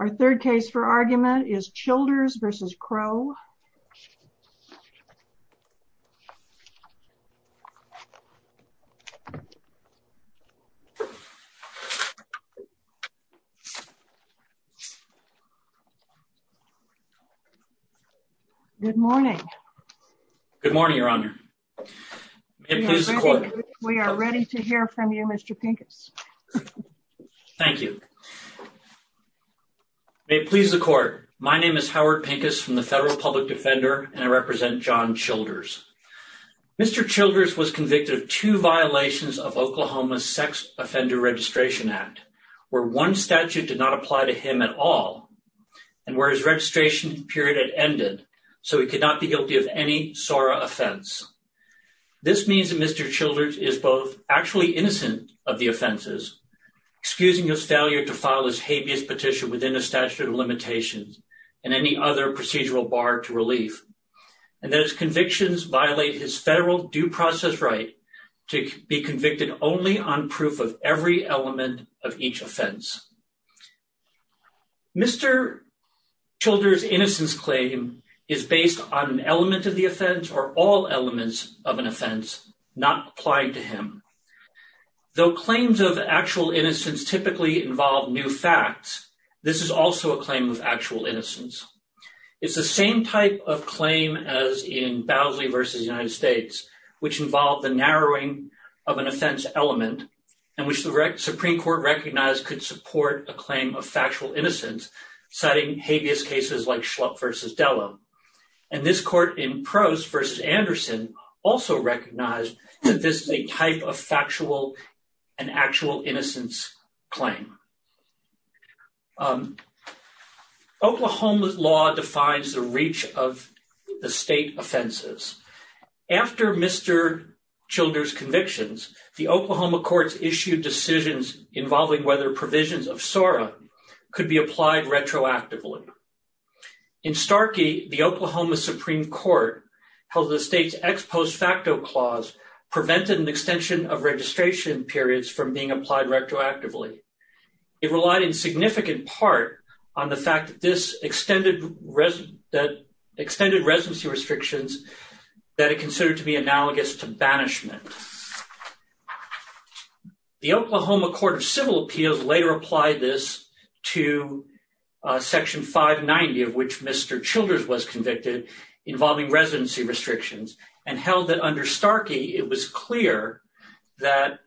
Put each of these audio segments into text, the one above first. Our third case for argument is Childers v. Crow. Good morning. Good morning, Your Honor. We are ready to hear from you, Mr. Pincus. Thank you. May it please the court. My name is Howard Pincus from the Federal Public Defender, and I represent John Childers. Mr. Childers was convicted of two violations of Oklahoma's Sex Offender Registration Act, where one statute did not apply to him at all, and where his registration period had ended, so he could not be guilty of any SORA offense. This means that Mr. Childers is both actually innocent of the offenses, excusing his failure to within a statute of limitations and any other procedural bar to relief, and that his convictions violate his federal due process right to be convicted only on proof of every element of each offense. Mr. Childers' innocence claim is based on an element of the offense or all elements of an offense not applied to him. Though claims of actual innocence typically involve new facts, this is also a claim of actual innocence. It's the same type of claim as in Bowsley v. United States, which involved the narrowing of an offense element, and which the Supreme Court recognized could support a claim of factual innocence, citing habeas cases like Schlupp v. Della. And this court in Prose v. Anderson also recognized that this is a type of factual and actual innocence claim. Oklahoma's law defines the reach of the state offenses. After Mr. Childers' convictions, the Oklahoma courts issued decisions involving whether provisions of SORA could be applied retroactively. In Starkey, the Oklahoma Supreme Court held the state's ex post facto clause prevented an extension of registration periods from being applied retroactively. It relied in significant part on the fact that this extended residency restrictions that it considered to be analogous to banishment. The Oklahoma Court of Civil Appeals later applied this to Section 590, of which Mr. Childers was convicted, involving residency restrictions, and held that under Starkey, it was clear that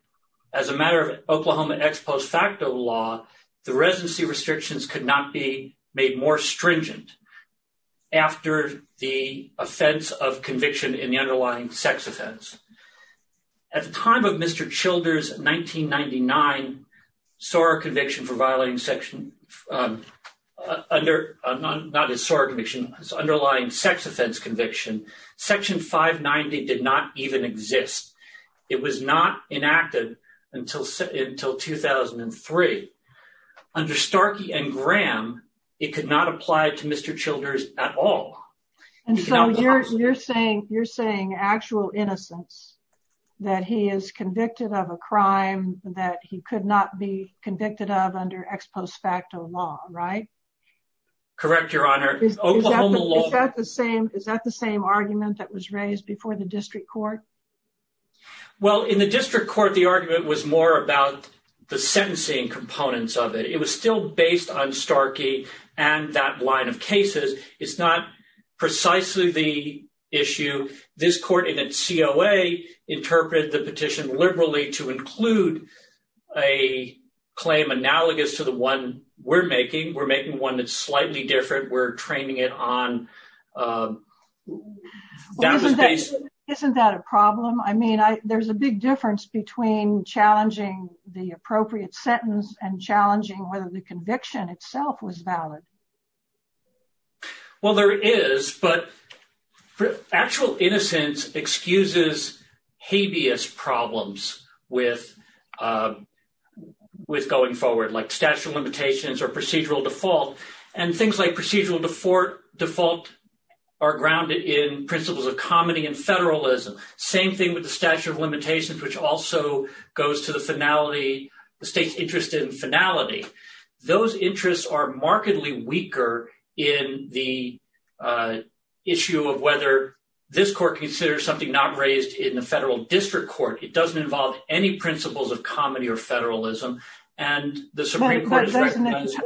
as a matter of Oklahoma ex post facto law, the residency restrictions could not be made more stringent after the offense of conviction in the underlying sex offense. At the time of Mr. Childers' 1999 SORA conviction for violating Section, not his SORA conviction, his underlying sex offense conviction, Section 590 did not even exist. It was not enacted until 2003. Under Starkey and Graham, it could not apply to Mr. Childers at all. And so you're saying actual innocence, that he is convicted of a crime that he could not be convicted of under ex post facto law, right? Correct, Your Honor. Is that the same argument that was raised before the district court? Well, in the district court, the argument was more about the sentencing components of it. It was still based on Starkey and that line of cases. It's not precisely the issue. This court in its COA interpreted the petition liberally to include a claim analogous to the one we're making. We're making one that's slightly different. We're training it on... Isn't that a problem? I mean, there's a big difference between challenging the appropriate sentence and challenging whether the conviction itself was valid. Well, there is, but actual innocence excuses habeas problems with going forward, like statute of limitations or procedural default, and things like procedural default are grounded in principles of comedy and federalism. Same thing with the statute of limitations, which also goes to the finality, the state's interest in finality. Those interests are markedly weaker in the issue of whether this court considers something not raised in the federal district court, it doesn't involve any principles of comedy or federalism, and the Supreme Court has recognized that.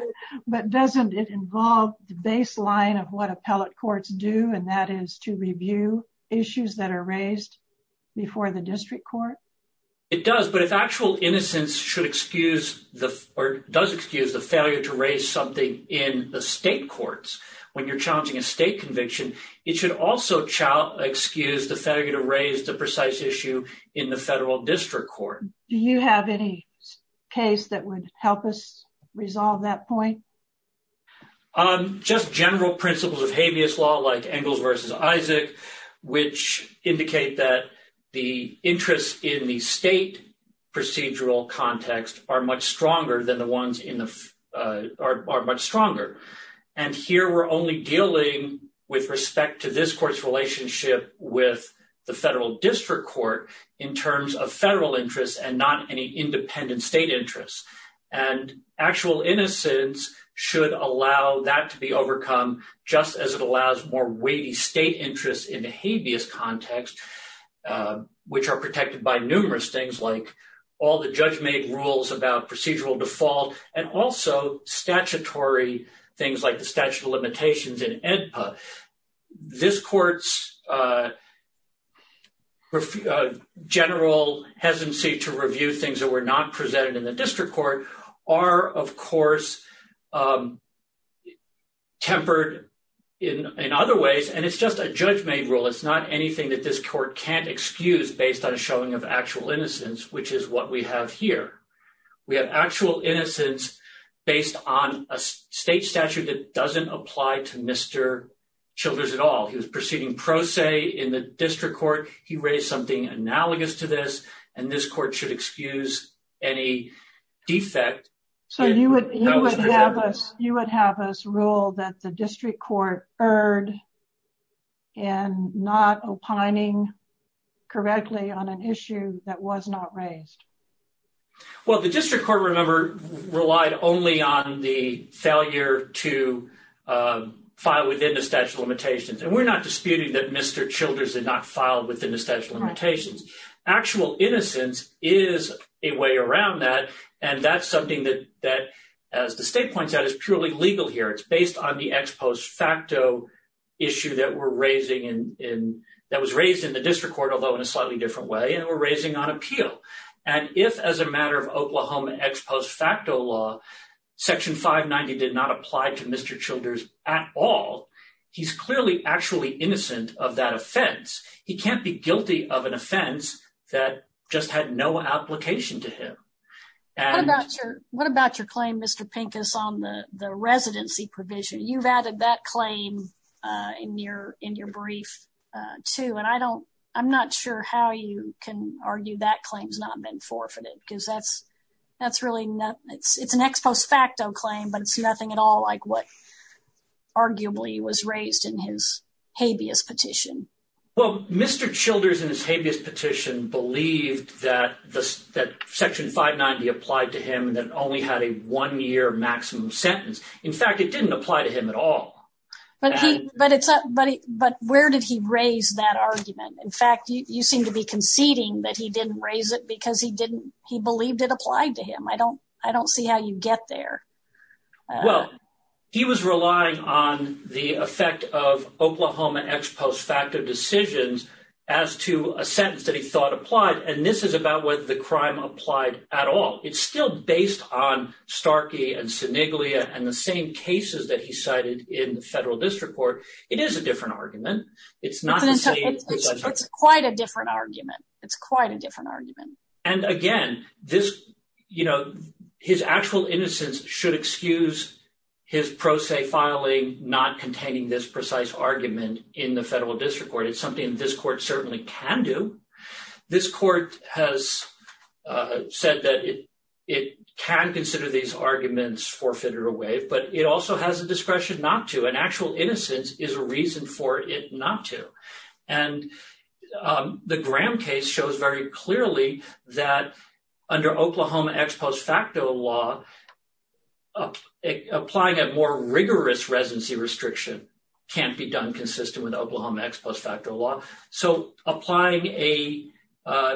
But doesn't it involve the baseline of what appellate courts do, and that is to review issues that are raised before the district court? It does. But if actual innocence should excuse or does excuse the failure to raise something in the state courts, when you're challenging a state conviction, it should also excuse the failure to raise the precise issue in the federal district court. Do you have any case that would help us resolve that point? Just general principles of habeas law, like Engels versus Isaac, which indicate that the interests in the state procedural context are much stronger than the ones in the, are much stronger. And here we're only dealing with respect to this court's relationship with the federal district court in terms of federal interests and not any independent state interests, and actual innocence should allow that to be overcome just as it allows more weighty state interests in the habeas context, which are protected by numerous things like all the judge made rules about procedural default and also statutory things like the statute of limitations in AEDPA. This court's general hesitancy to review things that were not presented in the other ways, and it's just a judge made rule. It's not anything that this court can't excuse based on a showing of actual innocence, which is what we have here. We have actual innocence based on a state statute that doesn't apply to Mr. Childers at all. He was proceeding pro se in the district court. He raised something analogous to this, and this court should excuse any defect. So you would have us rule that the district court erred in not opining correctly on an issue that was not raised. Well, the district court, remember, relied only on the failure to file within the statute of limitations. And we're not disputing that Mr. Childers did not file within the statute of limitations. Actual innocence is a way around that. And that's something that, as the state points out, is purely legal here. It's based on the ex post facto issue that was raised in the district court, although in a slightly different way, and we're raising on appeal. And if as a matter of Oklahoma ex post facto law, section 590 did not apply to Mr. Childers at all, he's clearly actually innocent of that offense. He can't be guilty of an offense that just had no application to him. What about your claim, Mr. Pincus, on the residency provision? You've added that claim in your brief too, and I'm not sure how you can argue that claim's not been forfeited because that's really, it's an ex post facto claim, but it's nothing at all like what arguably was raised in his habeas petition. Well, Mr. Childers in his habeas petition believed that section 590 applied to him and that it only had a one-year maximum sentence. In fact, it didn't apply to him at all. But where did he raise that argument? In fact, you seem to be conceding that he didn't raise it because he believed it applied to him. I don't see how you get there. Well, he was relying on the effect of Oklahoma ex post facto decisions as to a sentence that he thought applied. And this is about whether the crime applied at all. It's still based on Starkey and Siniglia and the same cases that he cited in the federal district court. It is a different argument. It's not the same. It's quite a different argument. It's quite a different argument. And again, this, you know, his actual innocence should excuse his pro se filing, not containing this precise argument in the federal district court. It's something this court certainly can do. This court has said that it can consider these arguments forfeited or waived, but it also has the discretion not to. An actual innocence is a reason for it not to. And the Graham case shows very clearly that under Oklahoma ex post facto law, applying a more rigorous residency restriction can't be done consistent with Oklahoma ex post facto law. So applying a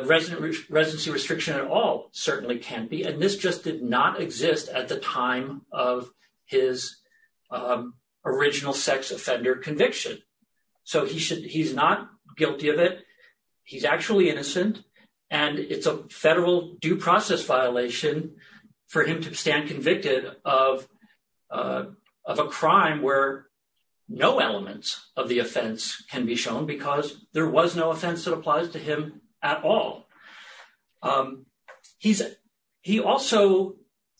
resident residency restriction at all certainly can't be. And this just did not exist at the time of his original sex offender conviction. So he's not guilty of it. He's actually innocent and it's a federal due process violation for him to stand convicted of a crime where no elements of the offense can be shown because there was no offense that applies to him at all. He also,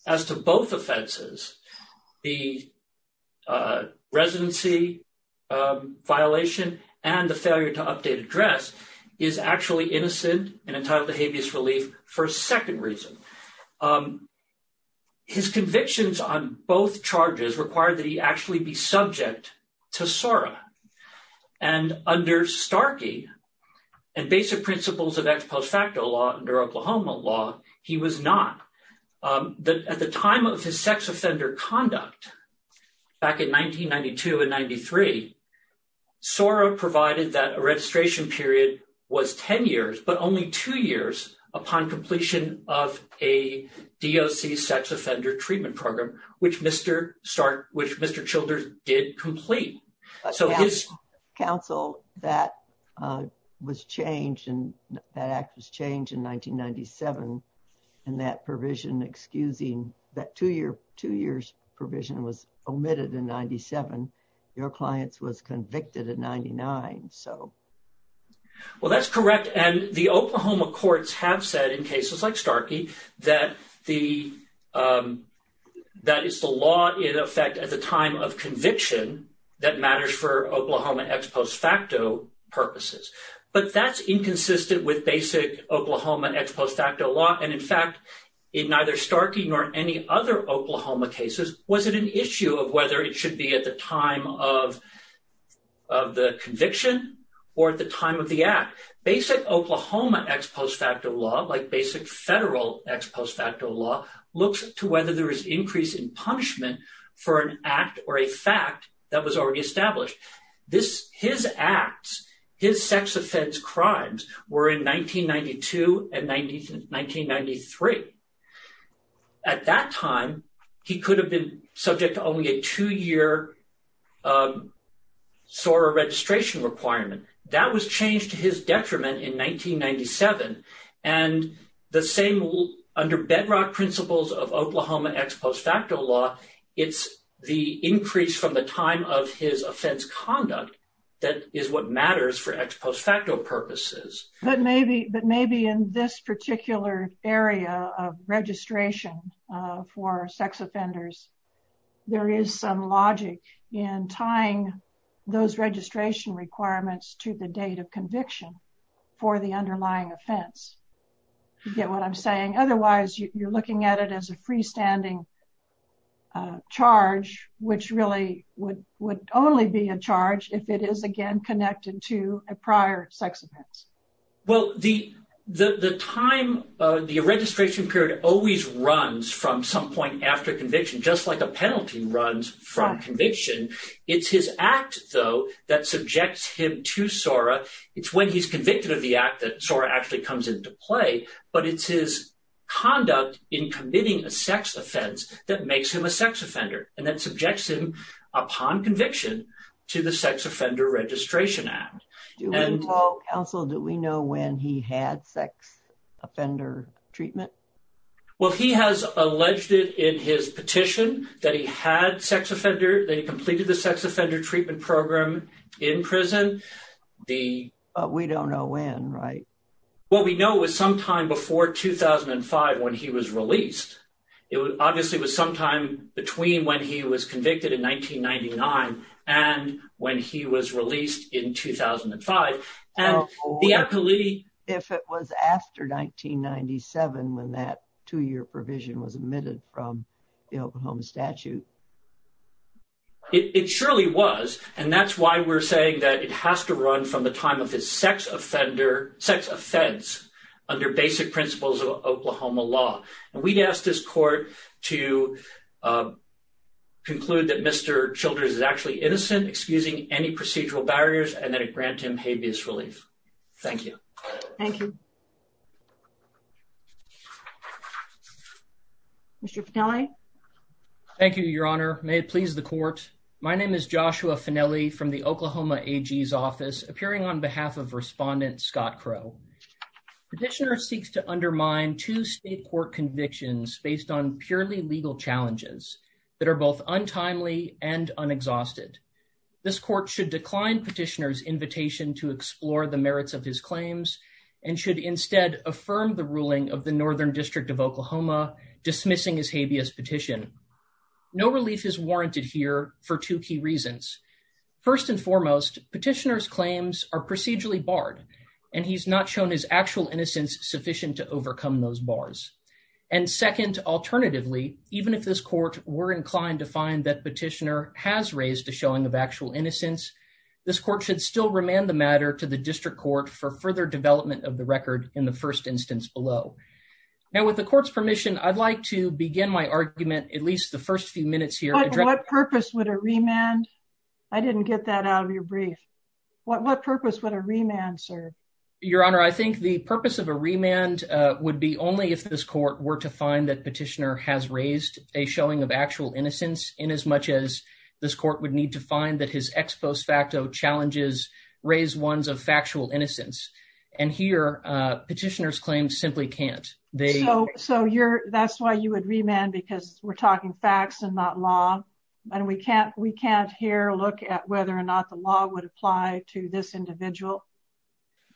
as to both offenses, the residency violation and the failure to update address is actually innocent and entitled to habeas relief for a second reason. His convictions on both charges require that he actually be subject to SORA. And under Starkey and basic principles of ex post facto law under Oklahoma law, he was not. At the time of his sex offender conduct back in 1992 and 93, SORA provided that a registration period was 10 years, but only two years upon completion of a DOC sex offender treatment program, which Mr. Starkey, which Mr. Childers did complete. So his counsel that was changed and that act was changed in 1997 and that provision excusing that two year, two years provision was omitted in 97. Your clients was convicted in 99. So. Well, that's correct. And the Oklahoma courts have said in cases like Starkey that the that is the law in effect at the time of conviction that matters for Oklahoma ex post facto purposes. But that's inconsistent with basic Oklahoma ex post facto law. And in fact, in neither Starkey nor any other Oklahoma cases, was it an issue of whether it should be at the time of of the conviction or at the time of the act? Basic Oklahoma ex post facto law, like basic federal ex post facto law, looks to whether there is an increase in punishment for an act or a fact that was already established. This his acts, his sex offense crimes were in 1992 and 1993. At that time, he could have been subject to only a two year SORA registration requirement. That was changed to his detriment in 1997. And the same rule under bedrock principles of Oklahoma ex post facto law. It's the increase from the time of his offense conduct that is what matters for ex post facto purposes. But maybe but maybe in this particular area of registration for sex offenders, there is some logic in tying those registration requirements to the date of conviction for the offense. You get what I'm saying? Otherwise, you're looking at it as a freestanding charge, which really would would only be a charge if it is, again, connected to a prior sex offense. Well, the the time the registration period always runs from some point after conviction, just like a penalty runs from conviction. It's his act, though, that subjects him to SORA. It's when he's convicted of the act that SORA actually comes into play. But it's his conduct in committing a sex offense that makes him a sex offender and that subjects him upon conviction to the Sex Offender Registration Act. Do we know when he had sex offender treatment? Well, he has alleged it in his petition that he had sex offender. They completed the sex offender treatment program in prison. But we don't know when, right? Well, we know it was sometime before 2005 when he was released. It obviously was sometime between when he was convicted in 1999 and when he was released in 2005. And the appellee. If it was after 1997, when that two year provision was admitted from the Oklahoma statute. It surely was. And that's why we're saying that it has to run from the time of his sex offender sex offense under basic principles of Oklahoma law. And we'd ask this court to conclude that Mr. Childress is actually innocent, excusing any procedural barriers, and then grant him habeas relief. Thank you. Thank you. Mr. Finale. Thank you, Your Honor. May it please the court. My name is Joshua Finale from the Oklahoma AG's office, appearing on behalf of respondent Scott Crow. Petitioner seeks to undermine two state court convictions based on purely legal challenges that are both untimely and unexhausted. This court should decline petitioner's invitation to explore the merits of his claims and should instead affirm the ruling of the Northern District of Oklahoma dismissing his habeas petition. No relief is warranted here for two key reasons. First and foremost, petitioner's claims are procedurally barred and he's not shown his actual innocence sufficient to overcome those bars. And second, alternatively, even if this court were inclined to find that petitioner has raised a showing of actual innocence, this court should still remand the matter to the district court for further development of the record in the first instance below. Now, with the court's permission, I'd like to begin my argument at least the first few minutes here. What purpose would a remand? I didn't get that out of your brief. What purpose would a remand serve? Your Honor, I think the purpose of a remand would be only if this court were to find that petitioner has raised a showing of actual innocence in as much as this court would need to find that his ex post facto challenges raise ones of factual innocence. And here petitioner's claims simply can't. So you're that's why you would remand because we're talking facts and not law. And we can't we can't here look at whether or not the law would apply to this individual.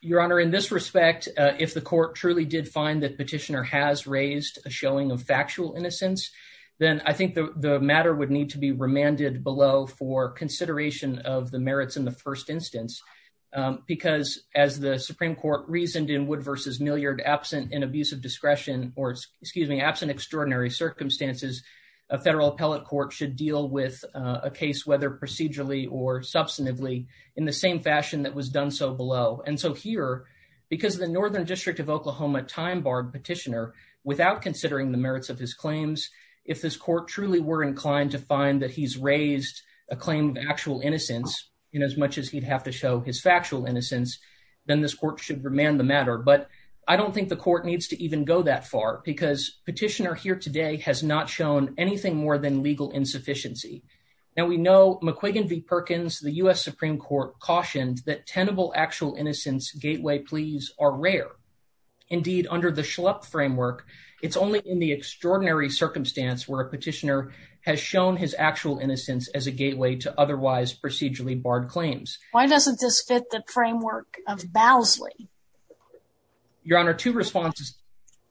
Your Honor, in this respect, if the court truly did find that petitioner has raised a showing of factual innocence, then I think the matter would need to be remanded below for consideration of the merits in the first instance, because as the discretion or excuse me, absent extraordinary circumstances, a federal appellate court should deal with a case, whether procedurally or substantively in the same fashion that was done so below. And so here, because the Northern District of Oklahoma time barred petitioner without considering the merits of his claims, if this court truly were inclined to find that he's raised a claim of actual innocence in as much as he'd have to show his factual innocence, then this court should remand the matter. But I don't think the court needs to even go that far because petitioner here today has not shown anything more than legal insufficiency. Now, we know McQuiggan v. Perkins, the U.S. Supreme Court, cautioned that tenable actual innocence gateway pleas are rare. Indeed, under the Schlupp framework, it's only in the extraordinary circumstance where a petitioner has shown his actual innocence as a gateway to otherwise procedurally barred claims. Why doesn't this fit the framework of Bowsley? Your Honor, two responses.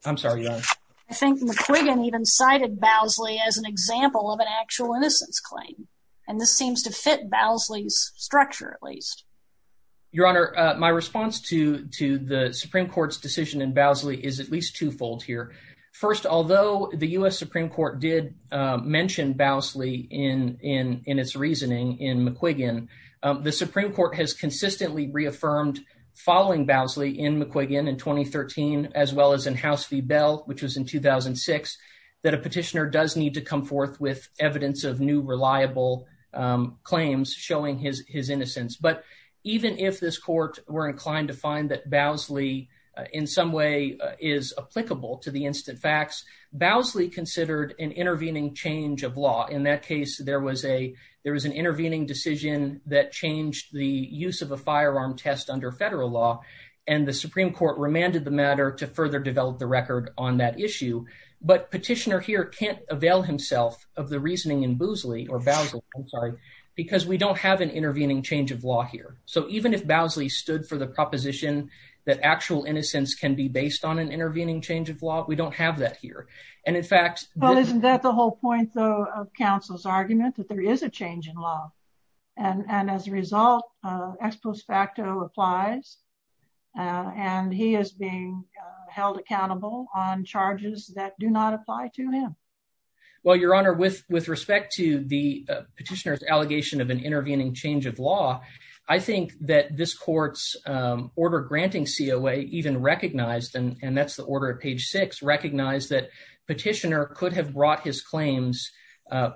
I'm sorry. I think McQuiggan even cited Bowsley as an example of an actual innocence claim. And this seems to fit Bowsley's structure, at least. Your Honor, my response to to the Supreme Court's decision in Bowsley is at least twofold here. First, although the U.S. Supreme Court did mention Bowsley in in in its reasoning in McQuiggan, the Supreme Court has consistently reaffirmed following Bowsley in McQuiggan in 2013, as well as in House v. Bell, which was in 2006, that a petitioner does need to come forth with evidence of new reliable claims showing his his innocence. But even if this court were inclined to find that Bowsley in some way is applicable to the instant facts, Bowsley considered an intervening change of law. In that case, there was a there was an intervening decision that changed the use of a firearm test under federal law. And the Supreme Court remanded the matter to further develop the record on that issue. But petitioner here can't avail himself of the reasoning in Bowsley or Bowsley, I'm sorry, because we don't have an intervening change of law here. So even if Bowsley stood for the proposition that actual innocence can be based on an intervening change of law, we don't have that here. And in fact, isn't that the whole point, though, of counsel's argument that there is a change in law. And as a result, ex post facto applies and he is being held accountable on charges that do not apply to him. Well, Your Honor, with with respect to the petitioner's allegation of an intervening change of law, I think that this court's order granting COA even recognized and that's petitioner could have brought his claims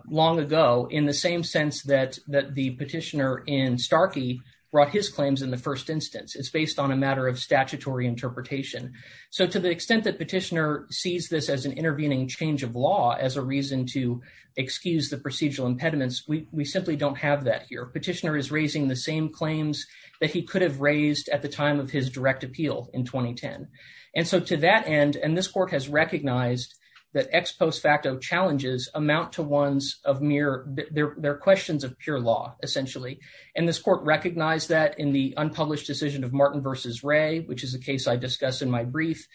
long ago in the same sense that that the petitioner in Starkey brought his claims in the first instance. It's based on a matter of statutory interpretation. So to the extent that petitioner sees this as an intervening change of law, as a reason to excuse the procedural impediments, we simply don't have that here. Petitioner is raising the same claims that he could have raised at the time of his direct appeal in 2010. And so to that end, and this court has recognized that ex post facto challenges amount to ones of mere their questions of pure law, essentially. And this court recognized that in the unpublished decision of Martin versus Ray, which is the case I discuss in my brief.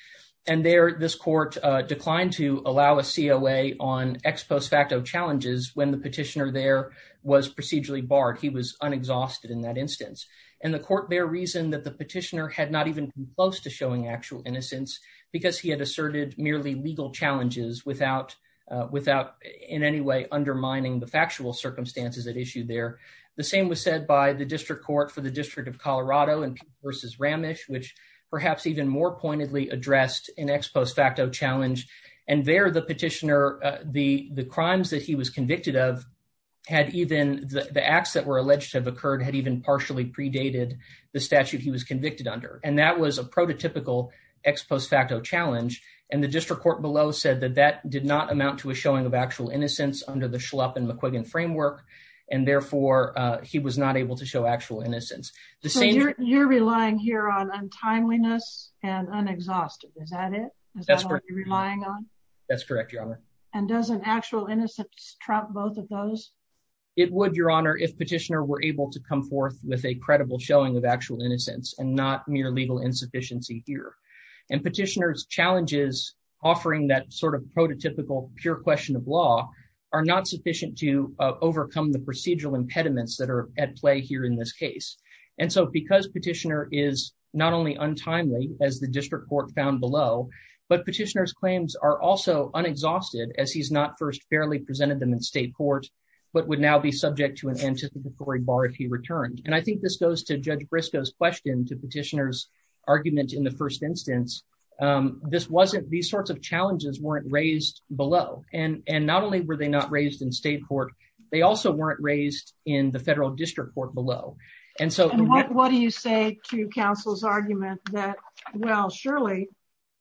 And there this court declined to allow a COA on ex post facto challenges when the petitioner there was procedurally barred. He was unexhausted in that instance. And the court there reasoned that the petitioner had not even been close to showing actual innocence because he had asserted merely legal challenges without without in any way undermining the factual circumstances at issue there. The same was said by the district court for the District of Colorado and versus Ramesh, which perhaps even more pointedly addressed in ex post facto challenge. And there the petitioner, the the crimes that he was convicted of had even the acts that were alleged to have occurred had even partially predated the statute he was convicted under. And that was a prototypical ex post facto challenge. And the district court below said that that did not amount to a showing of actual innocence under the Schlupp and McQuiggan framework. And therefore, he was not able to show actual innocence. The same you're relying here on untimeliness and unexhausted. Is that it? That's what you're relying on. That's correct, Your Honor. And doesn't actual innocence trump both of those? It would, Your Honor, if petitioner were able to come forth with a credible showing of actual innocence and not mere legal insufficiency here. And petitioner's challenges offering that sort of prototypical pure question of law are not sufficient to overcome the procedural impediments that are at play here in this case. And so because petitioner is not only untimely, as the district court found below, but petitioner's claims are also unexhausted as he's not first fairly presented them in state court, but would now be subject to an anticipatory bar if he returned. And I think this goes to Judge Briscoe's question to petitioner's argument in the first instance. This wasn't these sorts of challenges weren't raised below. And not only were they not raised in state court, they also weren't raised in the federal district court below. And so what do you say to counsel's argument that, well, surely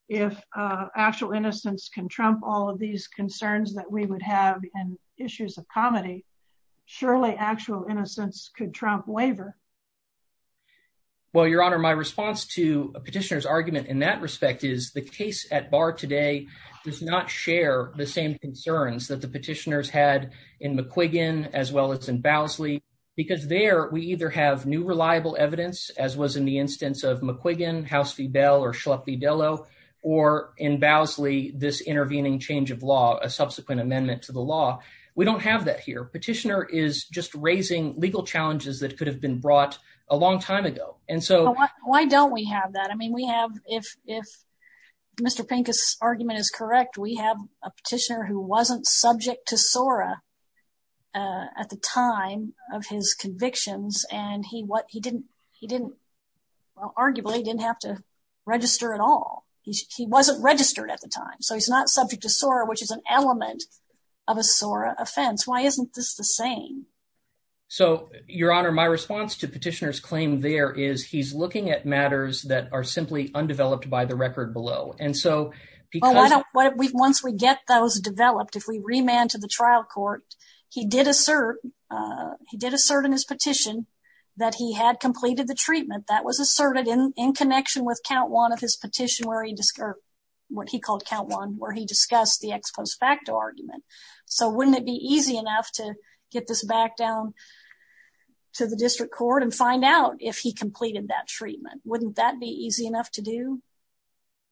if actual innocence can trump all of these concerns that we would have and issues of comedy, surely actual innocence could trump waiver? Well, Your Honor, my response to petitioner's argument in that respect is the case at bar today does not share the same concerns that the petitioners had in McQuiggan as well as in Bowsley, because there we either have new reliable evidence, as was in the instance of McQuiggan, House v. Bell or Schlupp v. Dello or in Bowsley, this intervening change of law, a subsequent amendment to the law. We don't have that here. Petitioner is just raising legal challenges that could have been brought a long time ago. And so why don't we have that? I mean, we have if if Mr. Pincus argument is correct, we have a petitioner who wasn't subject to SORA at the time of his convictions, and he what he didn't he didn't arguably didn't have to register at all. He wasn't registered at the time. So he's not subject to SORA, which is an element of a SORA offense. Why isn't this the same? So, Your Honor, my response to petitioner's claim there is he's looking at matters that are simply undeveloped by the record below. And so because once we get those developed, if we remand to the trial court, he did assert in his petition that he had completed the treatment that was asserted in connection with count one of his petition where he what he called count one where he discussed the ex post facto argument. So wouldn't it be easy enough to get this back down to the district court and find out if he completed that treatment? Wouldn't that be easy enough to do?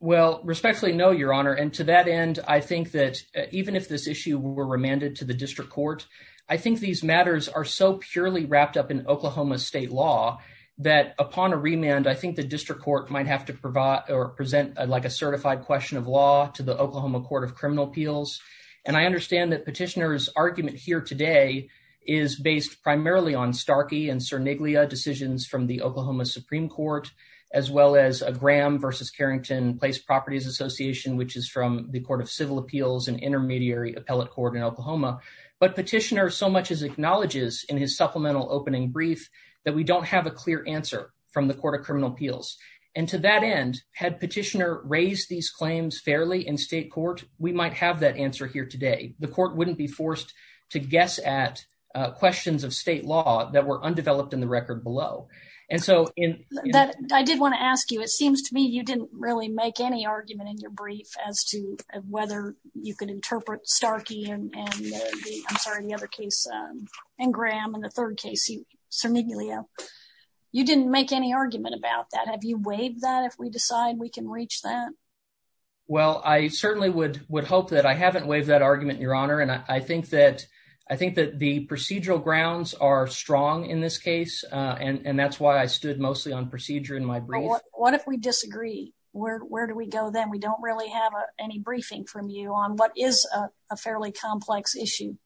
Well, respectfully, no, Your Honor, and to that end, I think that even if this issue were remanded to the district court, I think these matters are so purely wrapped up in Oklahoma state law that upon a remand, I think the district court might have to provide or present like a certified question of law to the Oklahoma Court of Criminal Appeals. And I understand that petitioner's argument here today is based primarily on Starkey and Sir Niglia decisions from the Oklahoma Supreme Court, as well as Graham versus Carrington Place Properties Association, which is from the Court of Civil Appeals and Intermediary Appellate Court in Oklahoma. But petitioner so much as acknowledges in his supplemental opening brief that we don't have a clear answer from the Court of Criminal Appeals. And to that end, had petitioner raised these claims fairly in state court, we might have that answer here today. The court wouldn't be forced to guess at questions of state law that were undeveloped in the record below. And so in that, I did want to ask you, it seems to me you didn't really make any argument in your brief as to whether you could interpret Starkey and I'm sorry, the other case and Graham and the third case, Sir Niglia, you didn't make any argument about that. Have you waived that if we decide we can reach that? Well, I certainly would would hope that I haven't waived that argument, Your Honor. And I think that I think that the procedural grounds are strong in this case, and that's why I stood mostly on procedure in my brief. What if we disagree? Where do we go then? We don't really have any briefing from you on what is a fairly complex issue.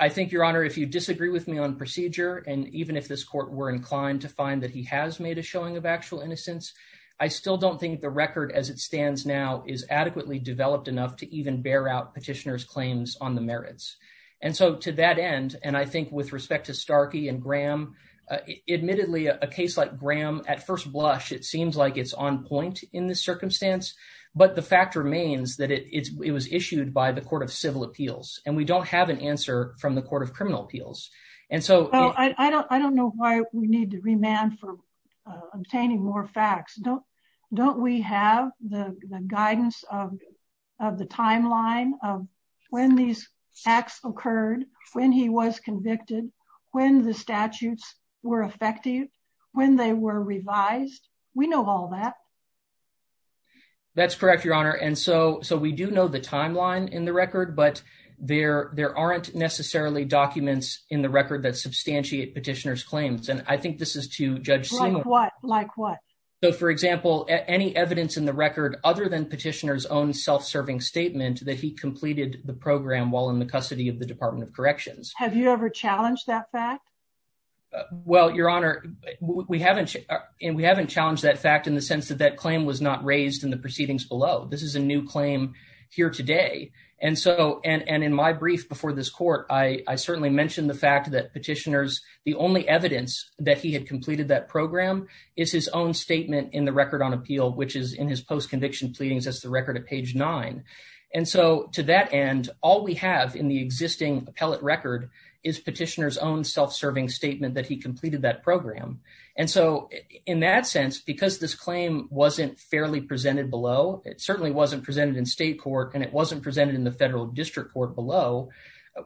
I think, Your Honor, if you disagree with me on procedure and even if this court were inclined to find that he has made a showing of actual innocence, I still don't think the record as it stands now is adequately developed enough to even bear out petitioner's claims on the merits. And so to that end, and I think with respect to Starkey and Graham, admittedly, a case like Graham at first blush, it seems like it's on point in this circumstance. But the fact remains that it was issued by the Court of Civil Appeals and we don't have an answer from the Court of Criminal Appeals. And so I don't know why we need to remand for obtaining more facts. Don't don't we have the guidance of the timeline of when these acts occurred, when he was convicted, when the statutes were effective, when they were revised? We know all that. That's correct, Your Honor. And so so we do know the timeline in the record, but there there aren't necessarily documents in the record that substantiate petitioner's claims. And I think this is to judge similar. Like what? So, for example, any evidence in the record other than petitioner's own self-serving statement that he completed the program while in the custody of the Department of Corrections. Have you ever challenged that fact? Well, Your Honor, we haven't and we haven't challenged that fact in the sense that that claim was not raised in the proceedings below. This is a new claim here today. And so and in my brief before this court, I certainly mentioned the fact that petitioners, the only evidence that he had completed that program is his own statement in the record on appeal, which is in his post-conviction pleadings. That's the record of page nine. And so to that end, all we have in the existing appellate record is petitioner's own self-serving statement that he completed that program. And so in that sense, because this claim wasn't fairly presented below, it certainly wasn't presented in state court and it wasn't presented in the federal district court below.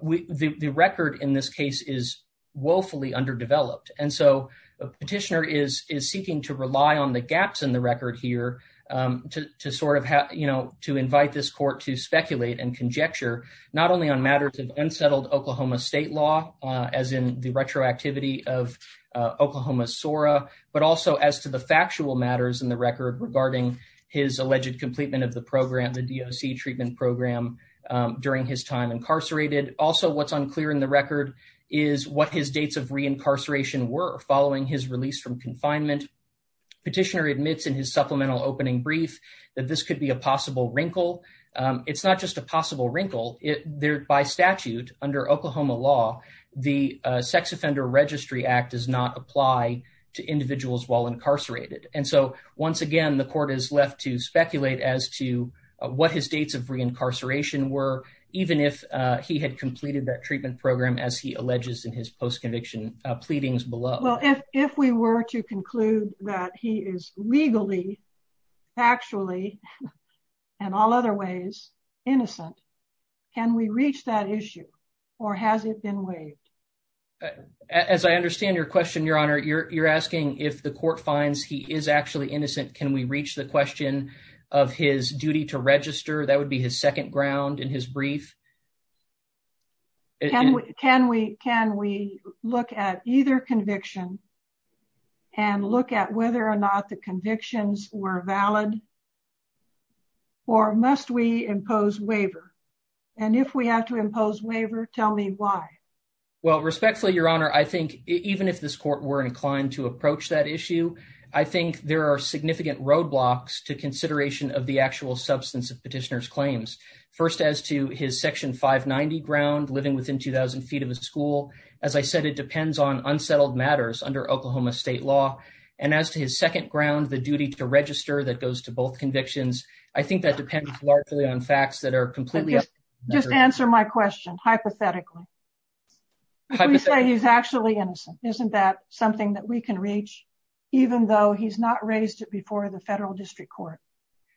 The record in this case is woefully underdeveloped. And so the petitioner is is seeking to rely on the gaps in the record here to sort of to invite this court to speculate and conjecture not only on matters of unsettled Oklahoma state law, as in the retroactivity of Oklahoma's SORA, but also as to the factual matters in the record regarding his alleged completion of the program, the DOC treatment program during his time incarcerated. Also, what's unclear in the record is what his dates of reincarceration were following his release from confinement. Petitioner admits in his supplemental opening brief that this could be a possible wrinkle. It's not just a possible wrinkle there by statute under Oklahoma law, the Sex Offender Registry Act does not apply to individuals while incarcerated. And so once again, the court is left to speculate as to what his dates of reincarceration were, even if he had completed that treatment program, as he alleges in his post-conviction pleadings below. Well, if if we were to conclude that he is legally, factually and all other ways, innocent, can we reach that issue or has it been waived? As I understand your question, Your Honor, you're asking if the court finds he is actually innocent, can we reach the question of his duty to register? That would be his second ground in his brief. Can we can we can we look at either conviction and look at whether or not the convictions were valid or must we impose waiver and if we have to impose waiver? Tell me why. Well, respectfully, Your Honor, I think even if this court were inclined to approach that issue, I think there are significant roadblocks to consideration of the actual substance of petitioner's claims. First, as to his Section 590 ground, living within 2000 feet of a school. As I said, it depends on unsettled matters under Oklahoma state law. And as to his second ground, the duty to register that goes to both convictions, I think that depends largely on facts that are completely. Just answer my question. Hypothetically. I would say he's actually innocent. Isn't that something that we can reach, even though he's not raised it before the federal district court?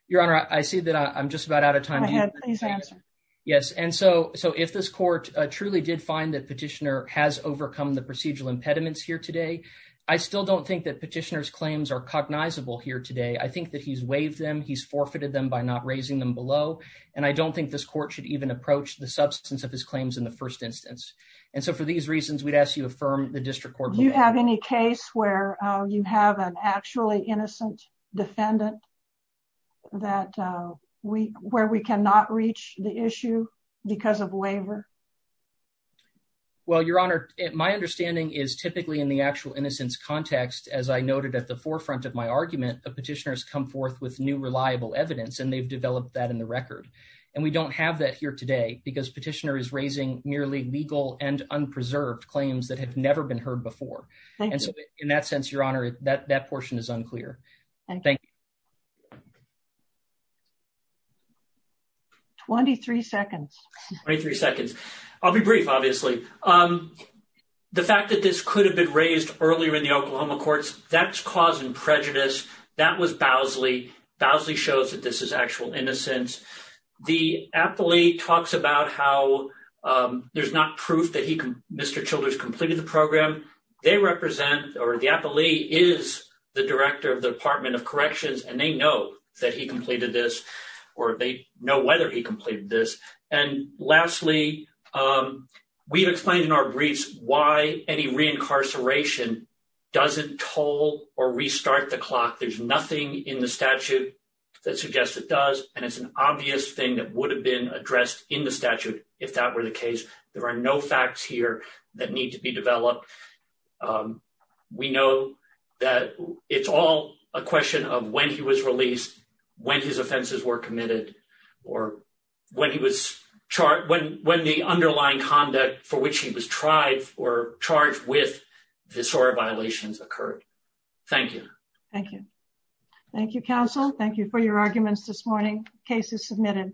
Your Honor, I see that I'm just about out of time. I had his answer. Yes. And so so if this court truly did find that petitioner has overcome the procedural impediments here today, I still don't think that petitioner's claims are cognizable here today. I think that he's waived them. He's forfeited them by not raising them below. And I don't think this court should even approach the substance of his claims in the first instance. And so for these reasons, we'd ask you affirm the district court. Do you have any case where you have an actually innocent defendant? That we where we cannot reach the issue because of waiver. Well, Your Honor, my understanding is typically in the actual innocence context, as I noted at the forefront of my argument, a petitioner has come forth with new reliable evidence and they've developed that in the record. And we don't have that here today because petitioner is raising merely legal and unpreserved claims that have never been heard before. And so in that sense, Your Honor, that that portion is unclear. Thank. Twenty three seconds, 23 seconds. I'll be brief, obviously. The fact that this could have been raised earlier in the Oklahoma courts, that's causing prejudice. That was Bowsley. Bowsley shows that this is actual innocence. The appellee talks about how there's not proof that he Mr. Childers completed the program they represent or the appellee is the director of the Department of Corrections, and they know that he completed this or they know whether he completed this. And lastly, we've explained in our briefs why any reincarceration doesn't toll or restart the clock. There's nothing in the statute that suggests it does. And it's an obvious thing that would have been addressed in the statute if that were the case. There are no facts here that need to be developed. We know that it's all a question of when he was released, when his offenses were committed or when he was charged, when the underlying conduct for which he was tried or charged with this or violations occurred. Thank you. Thank you. Thank you, counsel. Thank you for your arguments this morning. Case is submitted.